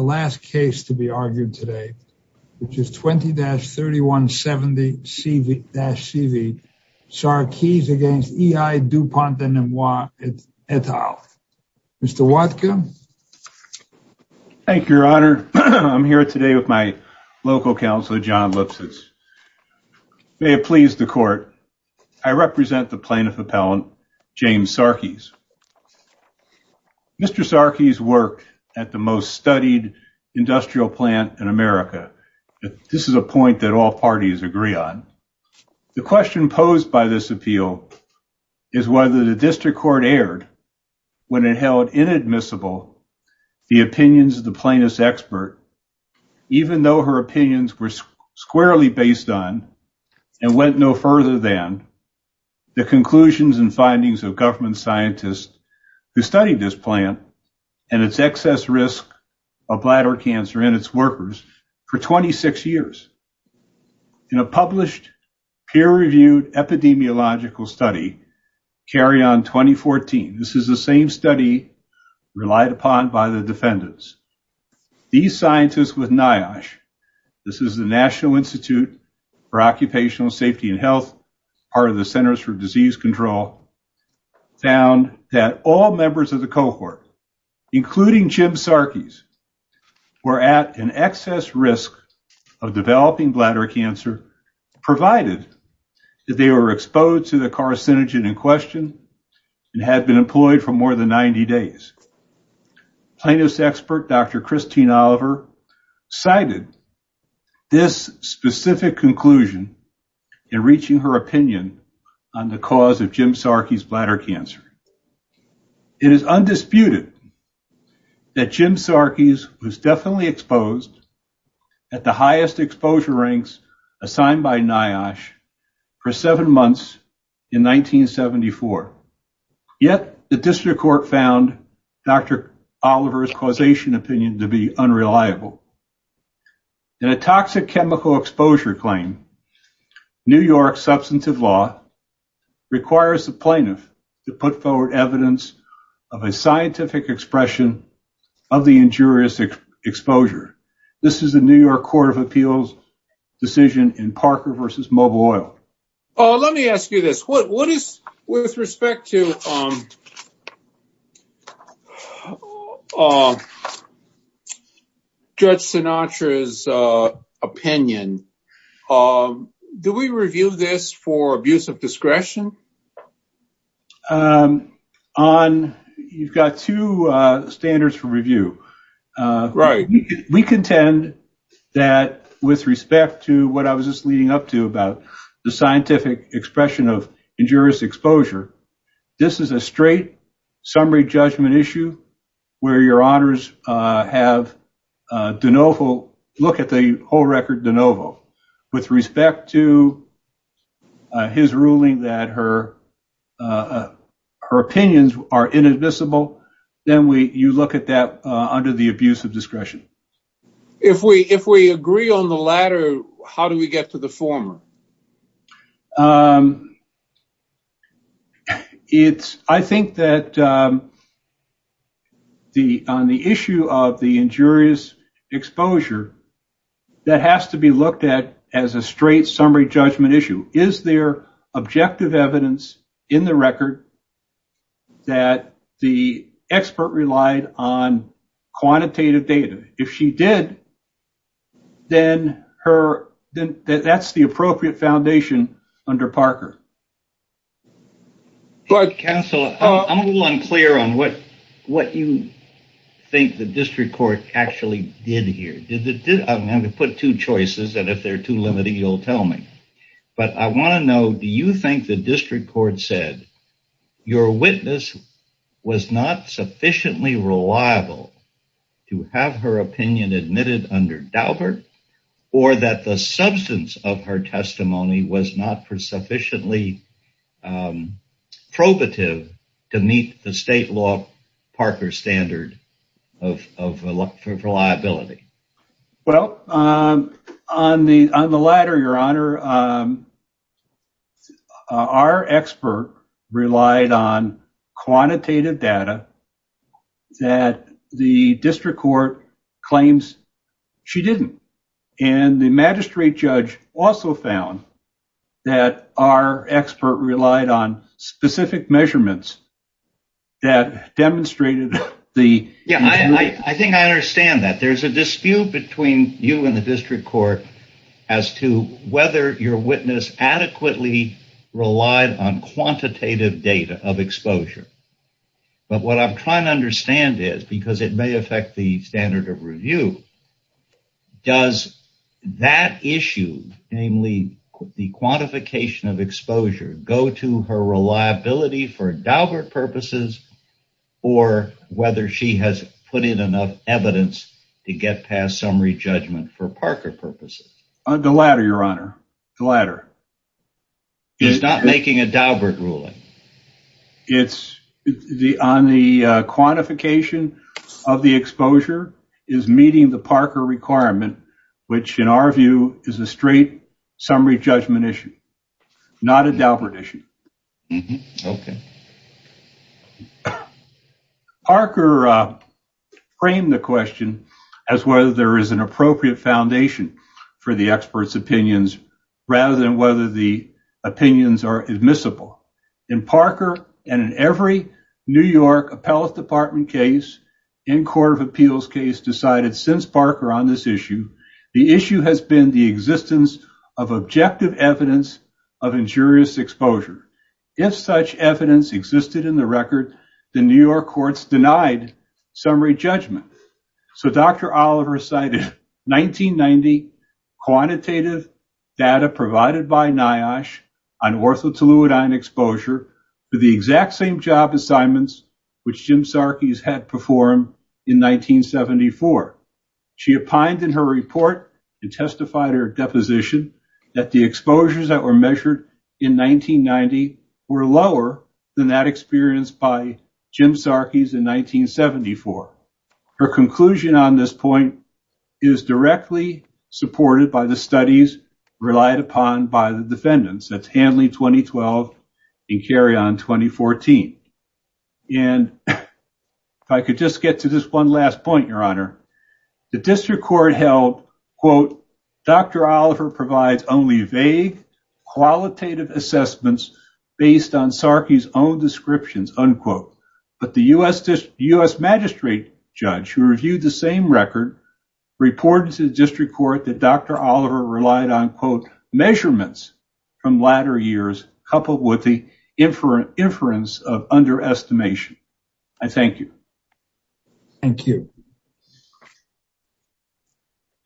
The last case to be argued today, which is 20-3170-CV Sarkes v. E.I. Dupoint de Nemours et al. Mr. Watkins? Thank you, your honor. I'm here today with my local counselor, John Lipsitz. May it please the court, I represent the plaintiff appellant, James Sarkes. Mr. Sarkes worked at the most studied industrial plant in America. This is a point that all parties agree on. The question posed by this appeal is whether the district court aired when it held inadmissible the opinions of the plaintiff's expert, even though her opinions were squarely based on, and went no further than, the conclusions and findings of government scientists who studied this plant and its excess risk of bladder cancer in its workers for 26 years. In a published, peer-reviewed epidemiological study, carry on 2014, this is the same study relied upon by the defendants. These scientists with NIOSH, this is the National members of the cohort, including Jim Sarkes, were at an excess risk of developing bladder cancer, provided that they were exposed to the carcinogen in question, and had been employed for more than 90 days. Plaintiff's expert, Dr. Christine Oliver, cited this specific conclusion in reaching her opinion on the cause of Jim Sarkes' bladder cancer. It is undisputed that Jim Sarkes was definitely exposed at the highest exposure ranks assigned by NIOSH for seven months in 1974. Yet, the district court found Dr. Oliver's causation opinion to be unreliable. In a toxic chemical exposure claim, New York's substantive law requires the plaintiff to put forward evidence of a scientific expression of the injurious exposure. This is the New York Court of Appeals decision in Parker v. Mobile Oil. Let me ask you this. With respect to Judge Sinatra's opinion, do we review this for abuse of discretion? You've got two standards for review. We contend that with respect to what I was just leading up to about the scientific expression of injurious exposure, this is a straight summary judgment issue where your honors look at the whole record de novo. With respect to his ruling that her opinions are inadmissible, then you look at that under the abuse of discretion. I think that on the issue of the injurious exposure, that has to be looked at as a straight summary judgment issue. Is there objective evidence in the record that the expert relied on quantitative data? If she did, then that's the appropriate foundation under Parker. I'm a little unclear on what you think the district court actually did here. I'm going to put two choices. If they're too limited, you'll tell me. I want to know, do you think the district court said your witness was not sufficiently reliable to have her opinion admitted under Daubert or that the substance of her testimony was not sufficiently probative to meet the state law Parker standard of reliability? On the latter, your honor, our expert relied on quantitative data that the district court claims she didn't. The magistrate judge also found that our expert relied on specific measurements that demonstrated the... I think I understand that. There's a dispute between you and the district court as to whether your witness adequately relied on quantitative data of exposure. What I'm trying to understand is, because it may affect the standard of review, does that issue, namely the quantification of exposure, go to her reliability for Daubert purposes? The latter, your honor, the latter. It's not making a Daubert ruling? It's on the quantification of the exposure is meeting the Parker requirement, which in our view is a straight summary judgment issue, not a Daubert issue. Okay. Parker framed the question as whether there is an appropriate foundation for the expert's opinions rather than whether the opinions are admissible. In Parker and in every New York appellate department case in court of appeals case decided since Parker on this issue, the issue has been the existence of objective evidence of injurious exposure. If such evidence existed in the record, the New York courts denied summary judgment. Dr. Oliver cited 1990 quantitative data provided by NIOSH on orthotoluidine exposure for the exact same assignments which Jim Sarkis had performed in 1974. She opined in her report and testified her deposition that the exposures that were measured in 1990 were lower than that experienced by Jim Sarkis in 1974. Her conclusion on this point is directly supported by the studies relied upon by the defendants. That's Hanley 2012 and carry on 2014. If I could just get to this one last point, your honor, the district court held, quote, Dr. Oliver provides only vague qualitative assessments based on Sarkis own descriptions, unquote, but the US magistrate judge who reviewed the same record reported to the district court that Dr. Oliver relied on, quote, measurements from latter years coupled with the inference of underestimation. I thank you. Thank you.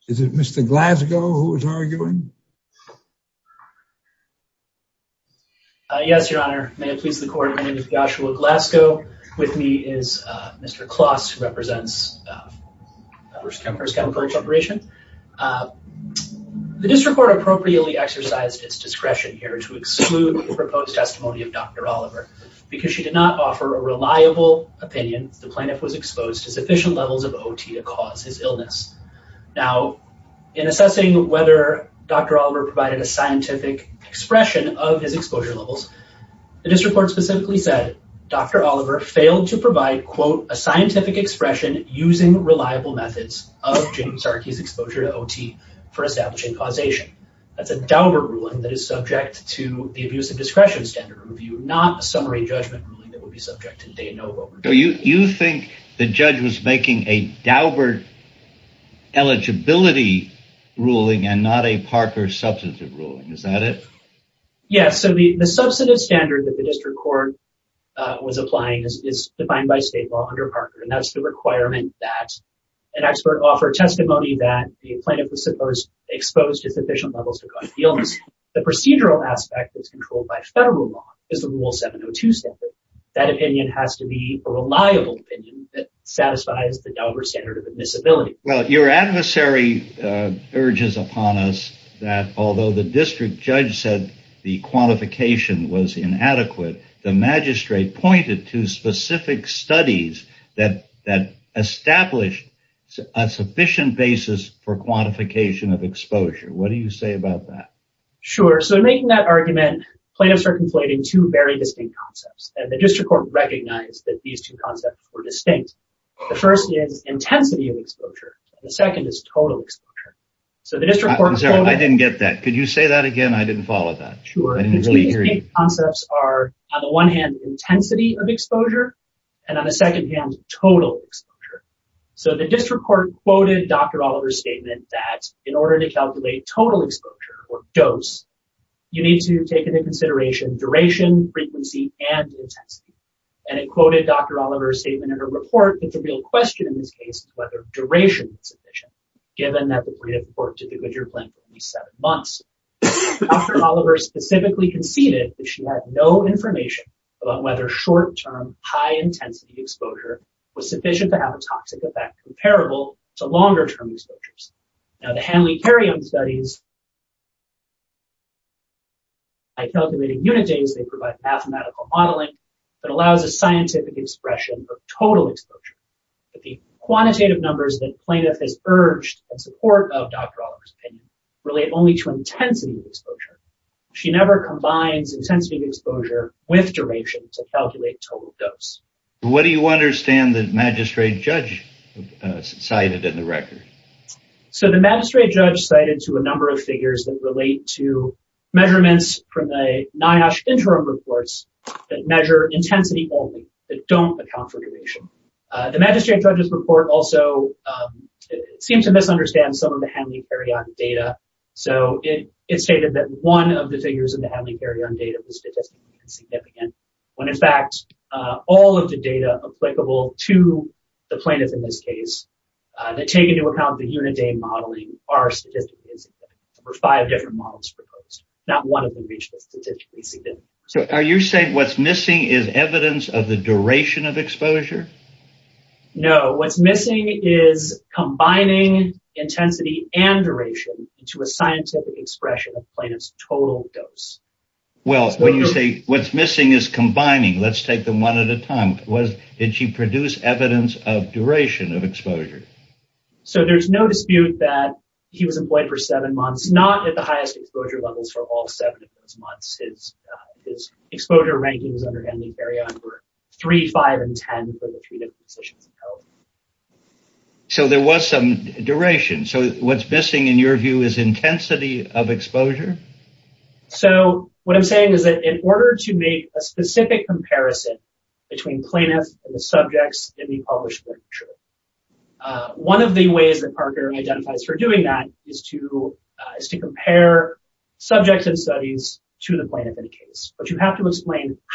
Is it Mr. Glasgow who is arguing? Yes, your honor, may it please the court, my name is Joshua Glasgow. With me is Mr. Kloss who represents First Chemical Corporation. The district court appropriately exercised its discretion here to exclude the proposed testimony of Dr. Oliver because she did not offer a reliable opinion. The plaintiff was exposed to sufficient levels of OT to cause his illness. Now, in assessing whether Dr. Oliver provided a scientific expression of his exposure levels, the district court specifically said Dr. Oliver failed to provide, quote, a scientific expression using reliable methods of James Sarkis' exposure to OT for establishing causation. That's a Daubert ruling that is subject to the Abusive Discretion Standard Review, not a summary judgment ruling that would be subject to day and over. Do you think the judge was making a Daubert eligibility ruling and not a Parker substantive ruling? Is that it? Yes, so the substantive standard that the district court was applying is defined by state law under Parker and that's the requirement that an expert offer testimony that the plaintiff was supposed exposed to sufficient levels to cause the illness. The procedural aspect is controlled by federal law is the rule 702 standard. That opinion has to be a reliable opinion that satisfies the Daubert admissibility. Well, your adversary urges upon us that although the district judge said the quantification was inadequate, the magistrate pointed to specific studies that established a sufficient basis for quantification of exposure. What do you say about that? Sure, so in making that argument, plaintiffs are conflating two very distinct concepts and the first is intensity of exposure and the second is total exposure. I didn't get that. Could you say that again? I didn't follow that. Sure, the two distinct concepts are on the one hand intensity of exposure and on the second hand total exposure. So the district court quoted Dr. Oliver's statement that in order to calculate total exposure or dose, you need to take into consideration duration, frequency, and intensity. And it quoted Dr. Oliver's statement in her report that the real question in this case is whether duration is sufficient given that the court did the Goodyear plan for at least seven months. Dr. Oliver specifically conceded that she had no information about whether short-term high-intensity exposure was sufficient to have a toxic effect comparable to longer-term exposures. Now the Hanley-Carrion studies, by calculating unitings, they provide mathematical modeling that allows a scientific expression of exposure. But the quantitative numbers that plaintiff has urged in support of Dr. Oliver's opinion relate only to intensity of exposure. She never combines intensity of exposure with duration to calculate total dose. What do you understand that magistrate judge cited in the record? So the magistrate judge cited to a number of figures that relate to measurements from the magistrate judge's report also seemed to misunderstand some of the Hanley-Carrion data. So it stated that one of the figures in the Hanley-Carrion data was statistically insignificant when in fact all of the data applicable to the plaintiff in this case that take into account the unit day modeling are statistically insignificant. There were five different models proposed. Not one of them reached the statistically significant. So are you saying what's missing is evidence of the duration of exposure? No, what's missing is combining intensity and duration into a scientific expression of plaintiff's total dose. Well, when you say what's missing is combining, let's take them one at a time, did she produce evidence of duration of exposure? So there's no dispute that he was employed for under Hanley-Carrion for 3, 5, and 10 for the three different positions. So there was some duration. So what's missing in your view is intensity of exposure? So what I'm saying is that in order to make a specific comparison between plaintiffs and the subjects in the published literature, one of the ways that Parker identifies for doing that is to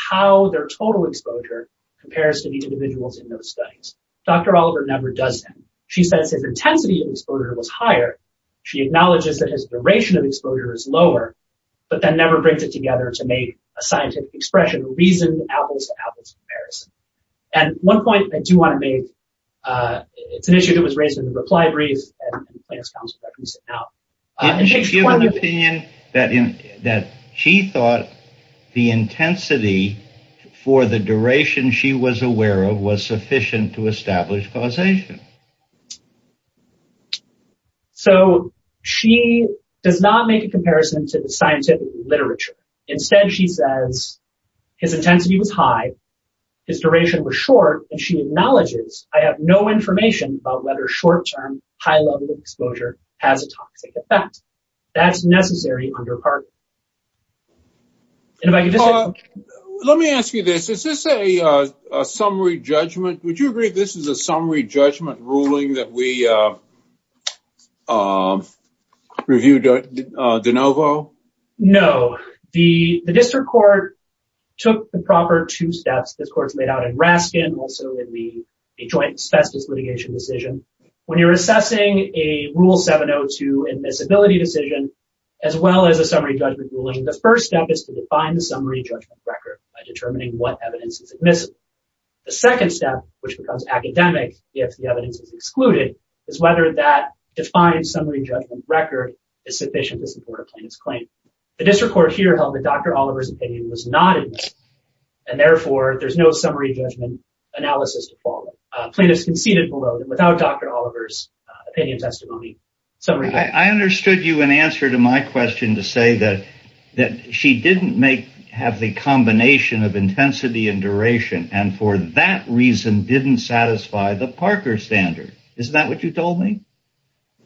how their total exposure compares to these individuals in those studies. Dr. Oliver never does that. She says his intensity of exposure was higher. She acknowledges that his duration of exposure is lower, but that never brings it together to make a scientific expression, a reasoned apples-to-apples comparison. And one point I do want to make, it's an issue that was raised in the reply brief and the plaintiff's counsel that we sit now. Didn't she give an opinion that she thought the intensity for the duration she was aware of was sufficient to establish causation? So she does not make a comparison to the scientific literature. Instead, she says his intensity was high, his duration was short, and she acknowledges, I have no information about whether short-term, high-level exposure has a toxic effect. That's necessary under Parker. Let me ask you this. Is this a summary judgment? Would you agree this is a summary judgment ruling that we reviewed de novo? No. The district court took the proper two steps. This court's laid out also in the joint asbestos litigation decision. When you're assessing a Rule 702 admissibility decision, as well as a summary judgment ruling, the first step is to define the summary judgment record by determining what evidence is admissible. The second step, which becomes academic if the evidence is excluded, is whether that defined summary judgment record is sufficient to support a plaintiff's claim. The district court here held that Dr. Oliver's opinion was not admissible, and therefore, there's no summary judgment analysis to follow. Plaintiffs conceded below that without Dr. Oliver's opinion testimony summary judgment. I understood you in answer to my question to say that she didn't have the combination of intensity and duration, and for that reason, didn't satisfy the Parker standard. Isn't that what you told me?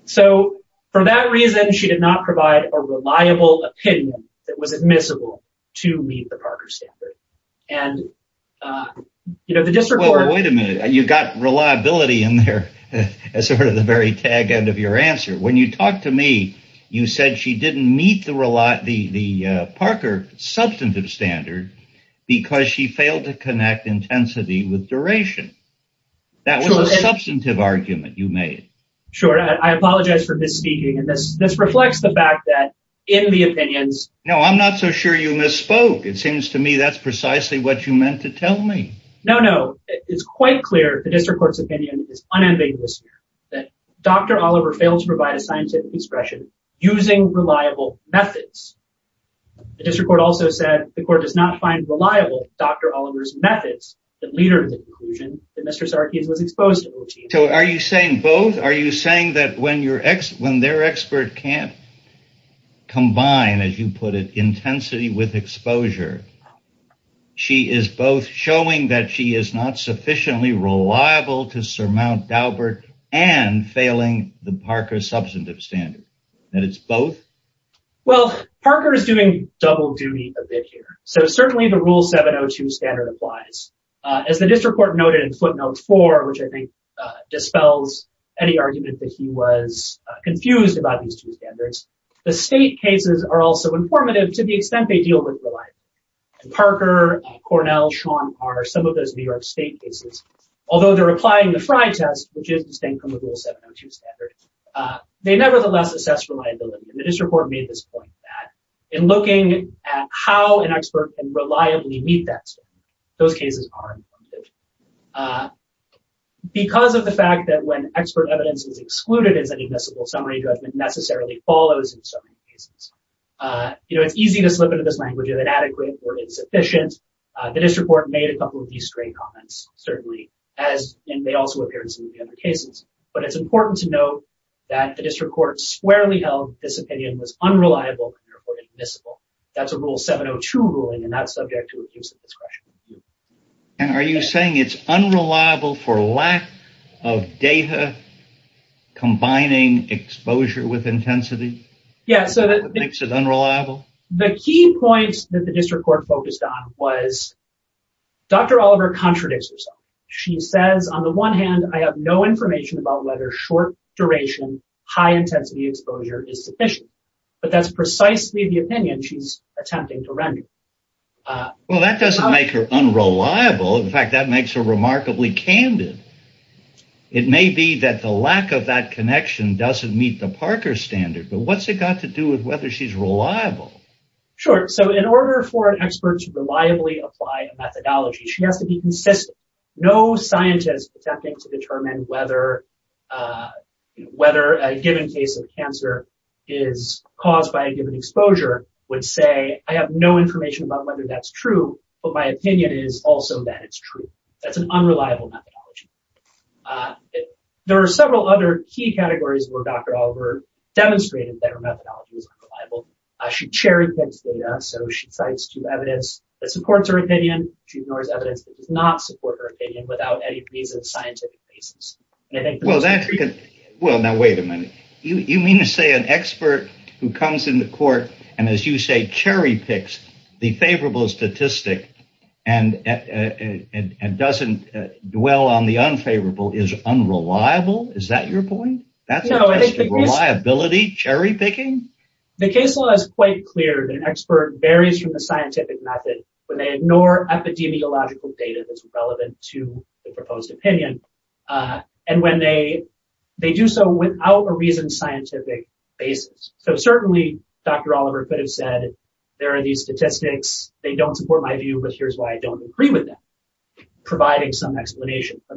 So for that reason, she did not provide a reliable opinion that was admissible to meet the Parker standard. Wait a minute. You got reliability in there as sort of the very tag end of your answer. When you talked to me, you said she didn't meet the Parker substantive standard because she failed to connect intensity with duration. That was a substantive argument you made. Sure. I apologize for misspeaking. This reflects the opinions. No, I'm not so sure you misspoke. It seems to me that's precisely what you meant to tell me. No, no, it's quite clear. The district court's opinion is unambiguous that Dr. Oliver failed to provide a scientific expression using reliable methods. The district court also said the court does not find reliable Dr. Oliver's methods, the leader of the conclusion that Mr. Sarkis was exposed to. So are you saying both? Are you saying that when their expert can't combine, as you put it, intensity with exposure, she is both showing that she is not sufficiently reliable to surmount Daubert and failing the Parker substantive standard. That it's both? Well, Parker is doing double duty a bit here. So certainly the rule 702 standard applies. As the district court noted in footnote four, which I think dispels any argument that he was The state cases are also informative to the extent they deal with reliability. And Parker, Cornell, Sean are some of those New York state cases. Although they're applying the Frye test, which is distinct from the rule 702 standard, they nevertheless assess reliability. And the district court made this point that in looking at how an expert can reliably meet that standard, those cases are informative. Because of the fact that when expert evidence is excluded is an admissible summary judgment necessarily follows in so many cases. You know, it's easy to slip into this language of inadequate or insufficient. The district court made a couple of these straight comments, certainly, as they also appear in some of the other cases. But it's important to note that the district court squarely held this opinion was unreliable and therefore admissible. That's a rule 702 ruling and that's subject to abuse of discretion. And are you saying it's unreliable for lack of data combining exposure with intensity? Yeah, so that makes it unreliable. The key points that the district court focused on was Dr. Oliver contradicts herself. She says, on the one hand, I have no information about whether short duration, high intensity exposure is sufficient. But that's precisely the opinion she's attempting to render. Well, that doesn't make her unreliable. In fact, that makes her remarkably candid. It may be that the lack of that connection doesn't meet the Parker standard, but what's it got to do with whether she's reliable? Sure. So in order for an expert to reliably apply a methodology, she has to be consistent. No scientist is attempting to say I have no information about whether that's true, but my opinion is also that it's true. That's an unreliable methodology. There are several other key categories where Dr. Oliver demonstrated that her methodology is unreliable. She cherry picks data, so she cites two evidence that supports her opinion. She ignores evidence that does not support her opinion without any reason, scientific basis. Well, now wait a minute. You mean to say an expert who comes in the court and, as you say, cherry picks the favorable statistic and doesn't dwell on the unfavorable is unreliable? Is that your point? That's a test of reliability? Cherry picking? The case law is quite clear that an expert varies from the scientific method when they ignore epidemiological data that's relevant to the proposed opinion and when they do so without a reasoned scientific basis. So certainly, Dr. Oliver could have said there are these statistics, they don't support my view, but here's why I don't agree with them, providing some explanation. A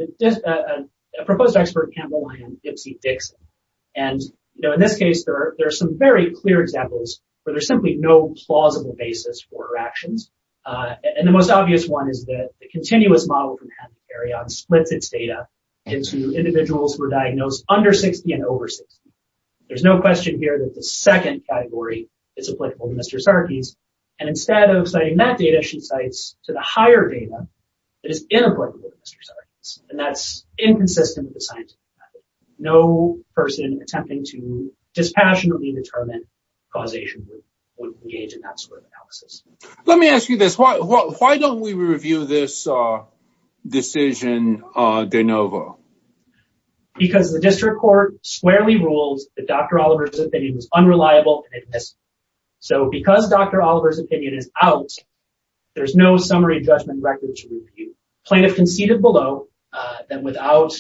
proposed expert can't rely on Dipsy-Dixon. In this case, there are some very clear examples where there's simply no plausible basis for her actions. The most obvious one is that the there's no question here that the second category is applicable to Mr. Sarkis, and instead of citing that data, she cites to the higher data that is inapplicable to Mr. Sarkis, and that's inconsistent with the scientific method. No person attempting to dispassionately determine causation would engage in that sort of analysis. Let me ask you this. Why don't we that Dr. Oliver's opinion was unreliable and admissible? So because Dr. Oliver's opinion is out, there's no summary judgment record to review. Plaintiff conceded below that without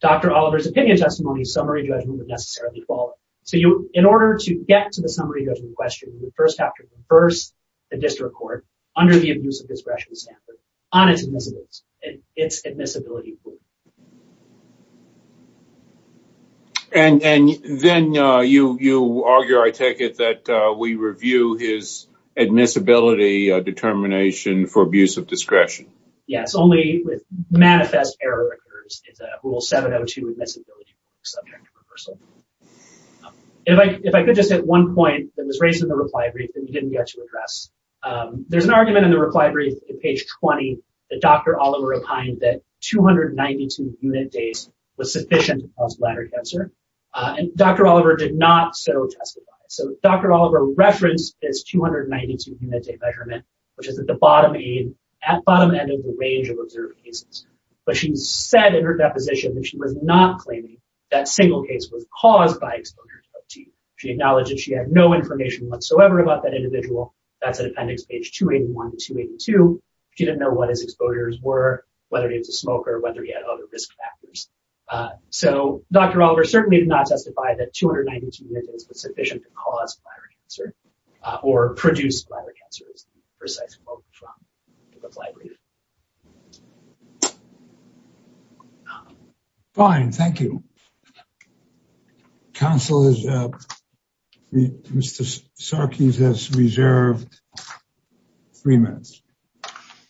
Dr. Oliver's opinion testimony, summary judgment would necessarily fall. So in order to get to the summary judgment question, you would first have to converse the district court under the admissibility rule. And then you argue, I take it, that we review his admissibility determination for abuse of discretion? Yes, only with manifest error records. It's a rule 702 admissibility subject to reversal. If I could just at one point that was raised in the reply brief that we didn't get to address, there's an argument in the reply brief at page 20 that Dr. Oliver opined that 292 unit days was sufficient to cause bladder cancer. And Dr. Oliver did not so testify. So Dr. Oliver referenced this 292 unit day measurement, which is at the bottom end of the range of observed cases. But she said in her deposition that she was not claiming that single case was caused by exposure to OTE. She acknowledged that she had no information whatsoever about that whether it was a smoker, whether he had other risk factors. So Dr. Oliver certainly did not testify that 292 unit days was sufficient to cause bladder cancer or produce bladder cancer, is the precise quote from the reply brief. Fine, thank you. Council, Mr. Sarkees has reserved three minutes.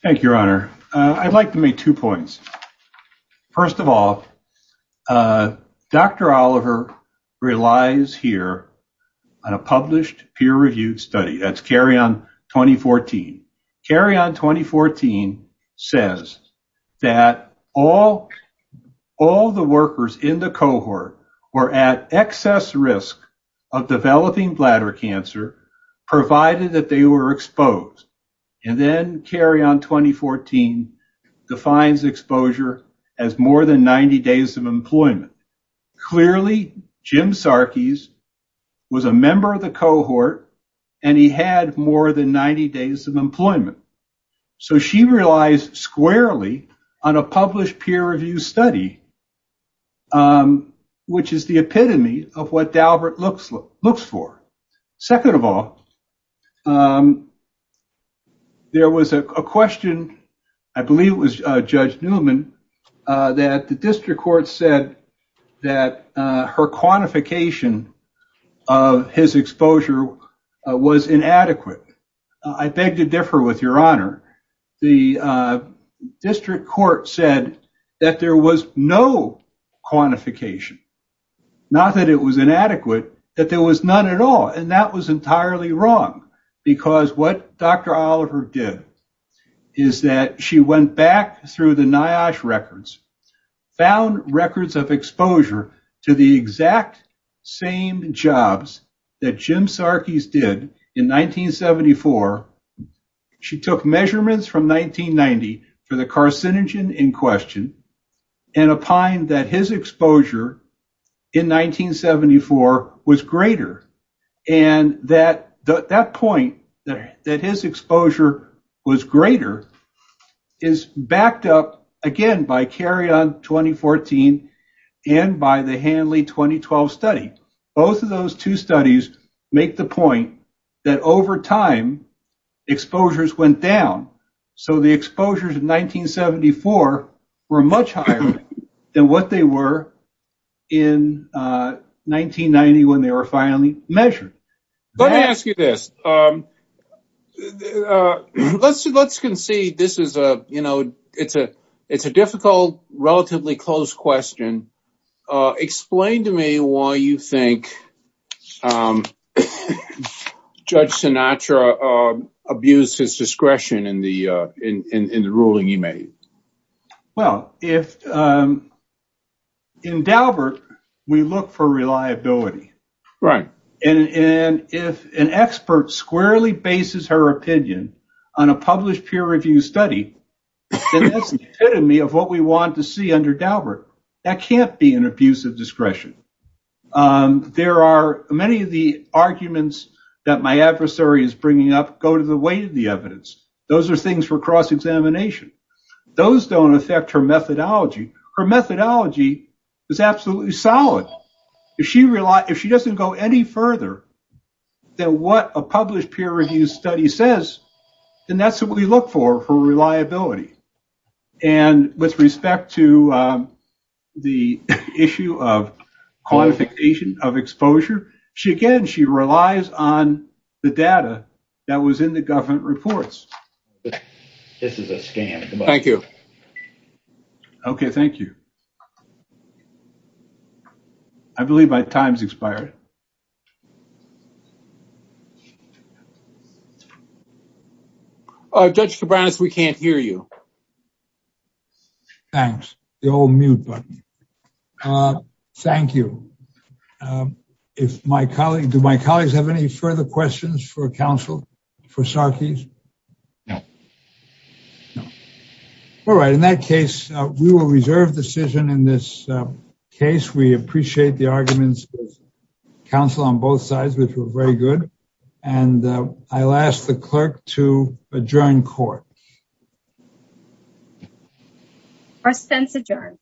Thank you, your honor. I'd like to make two points. First of all, Dr. Oliver relies here on a published peer-reviewed study. That's carry on 2014. Carry on 2014 says that all the workers in the cohort were at excess risk of developing bladder cancer, provided that they were exposed. And then carry on 2014 defines exposure as more than 90 days of employment. Clearly, Jim Sarkees was a member of the cohort, and he had more than 90 days of employment. So she relies squarely on a published peer-reviewed study, which is the epitome of what Second of all, there was a question, I believe it was Judge Newman, that the district court said that her quantification of his exposure was inadequate. I beg to differ with your honor. The district court said that there was no quantification. Not that it was inadequate, that there was none at all. And that was entirely wrong. Because what Dr. Oliver did is that she went back through the NIOSH records, found records of exposure to the exact same jobs that Jim Sarkees did in 1974. She took measurements from 1990 for the carcinogen in question, and opined that his exposure in 1974 was greater. And that point, that his exposure was greater, is backed up again by carry on 2014 and by the Hanley 2012 study. Both of those two studies make the point that over time, exposures went down. So the exposures in 1974 were much higher than what they were in 1990 when they were finally measured. Let me ask you this. Let's concede this is a difficult, relatively close question. Explain to me why you think Judge Sinatra abused his discretion in the ruling he made. Well, in Daubert, we look for reliability. And if an expert squarely bases her opinion on a published peer-reviewed study, then that's the epitome of what we want to see under Daubert. That can't be an abuse of discretion. Many of the arguments that my adversary is bringing up go to the weight of the evidence. Those are things for cross-examination. Those don't affect her methodology. Her methodology is absolutely solid. If she doesn't go any further than what a published peer-reviewed study says, then that's what we look for, for reliability. And with respect to the issue of quantification of exposure, again, she relies on the data that was in the government reports. This is a scam. Thank you. Okay. Thank you. I believe my time's expired. Judge Cabranes, we can't hear you. Thanks. The old mute button. Thank you. Do my colleagues have any further questions for counsel, for Sarkis? No. All right. In that case, we will reserve decision in this case. We appreciate the counsel on both sides, which was very good. And I'll ask the clerk to adjourn court. First sentence adjourned.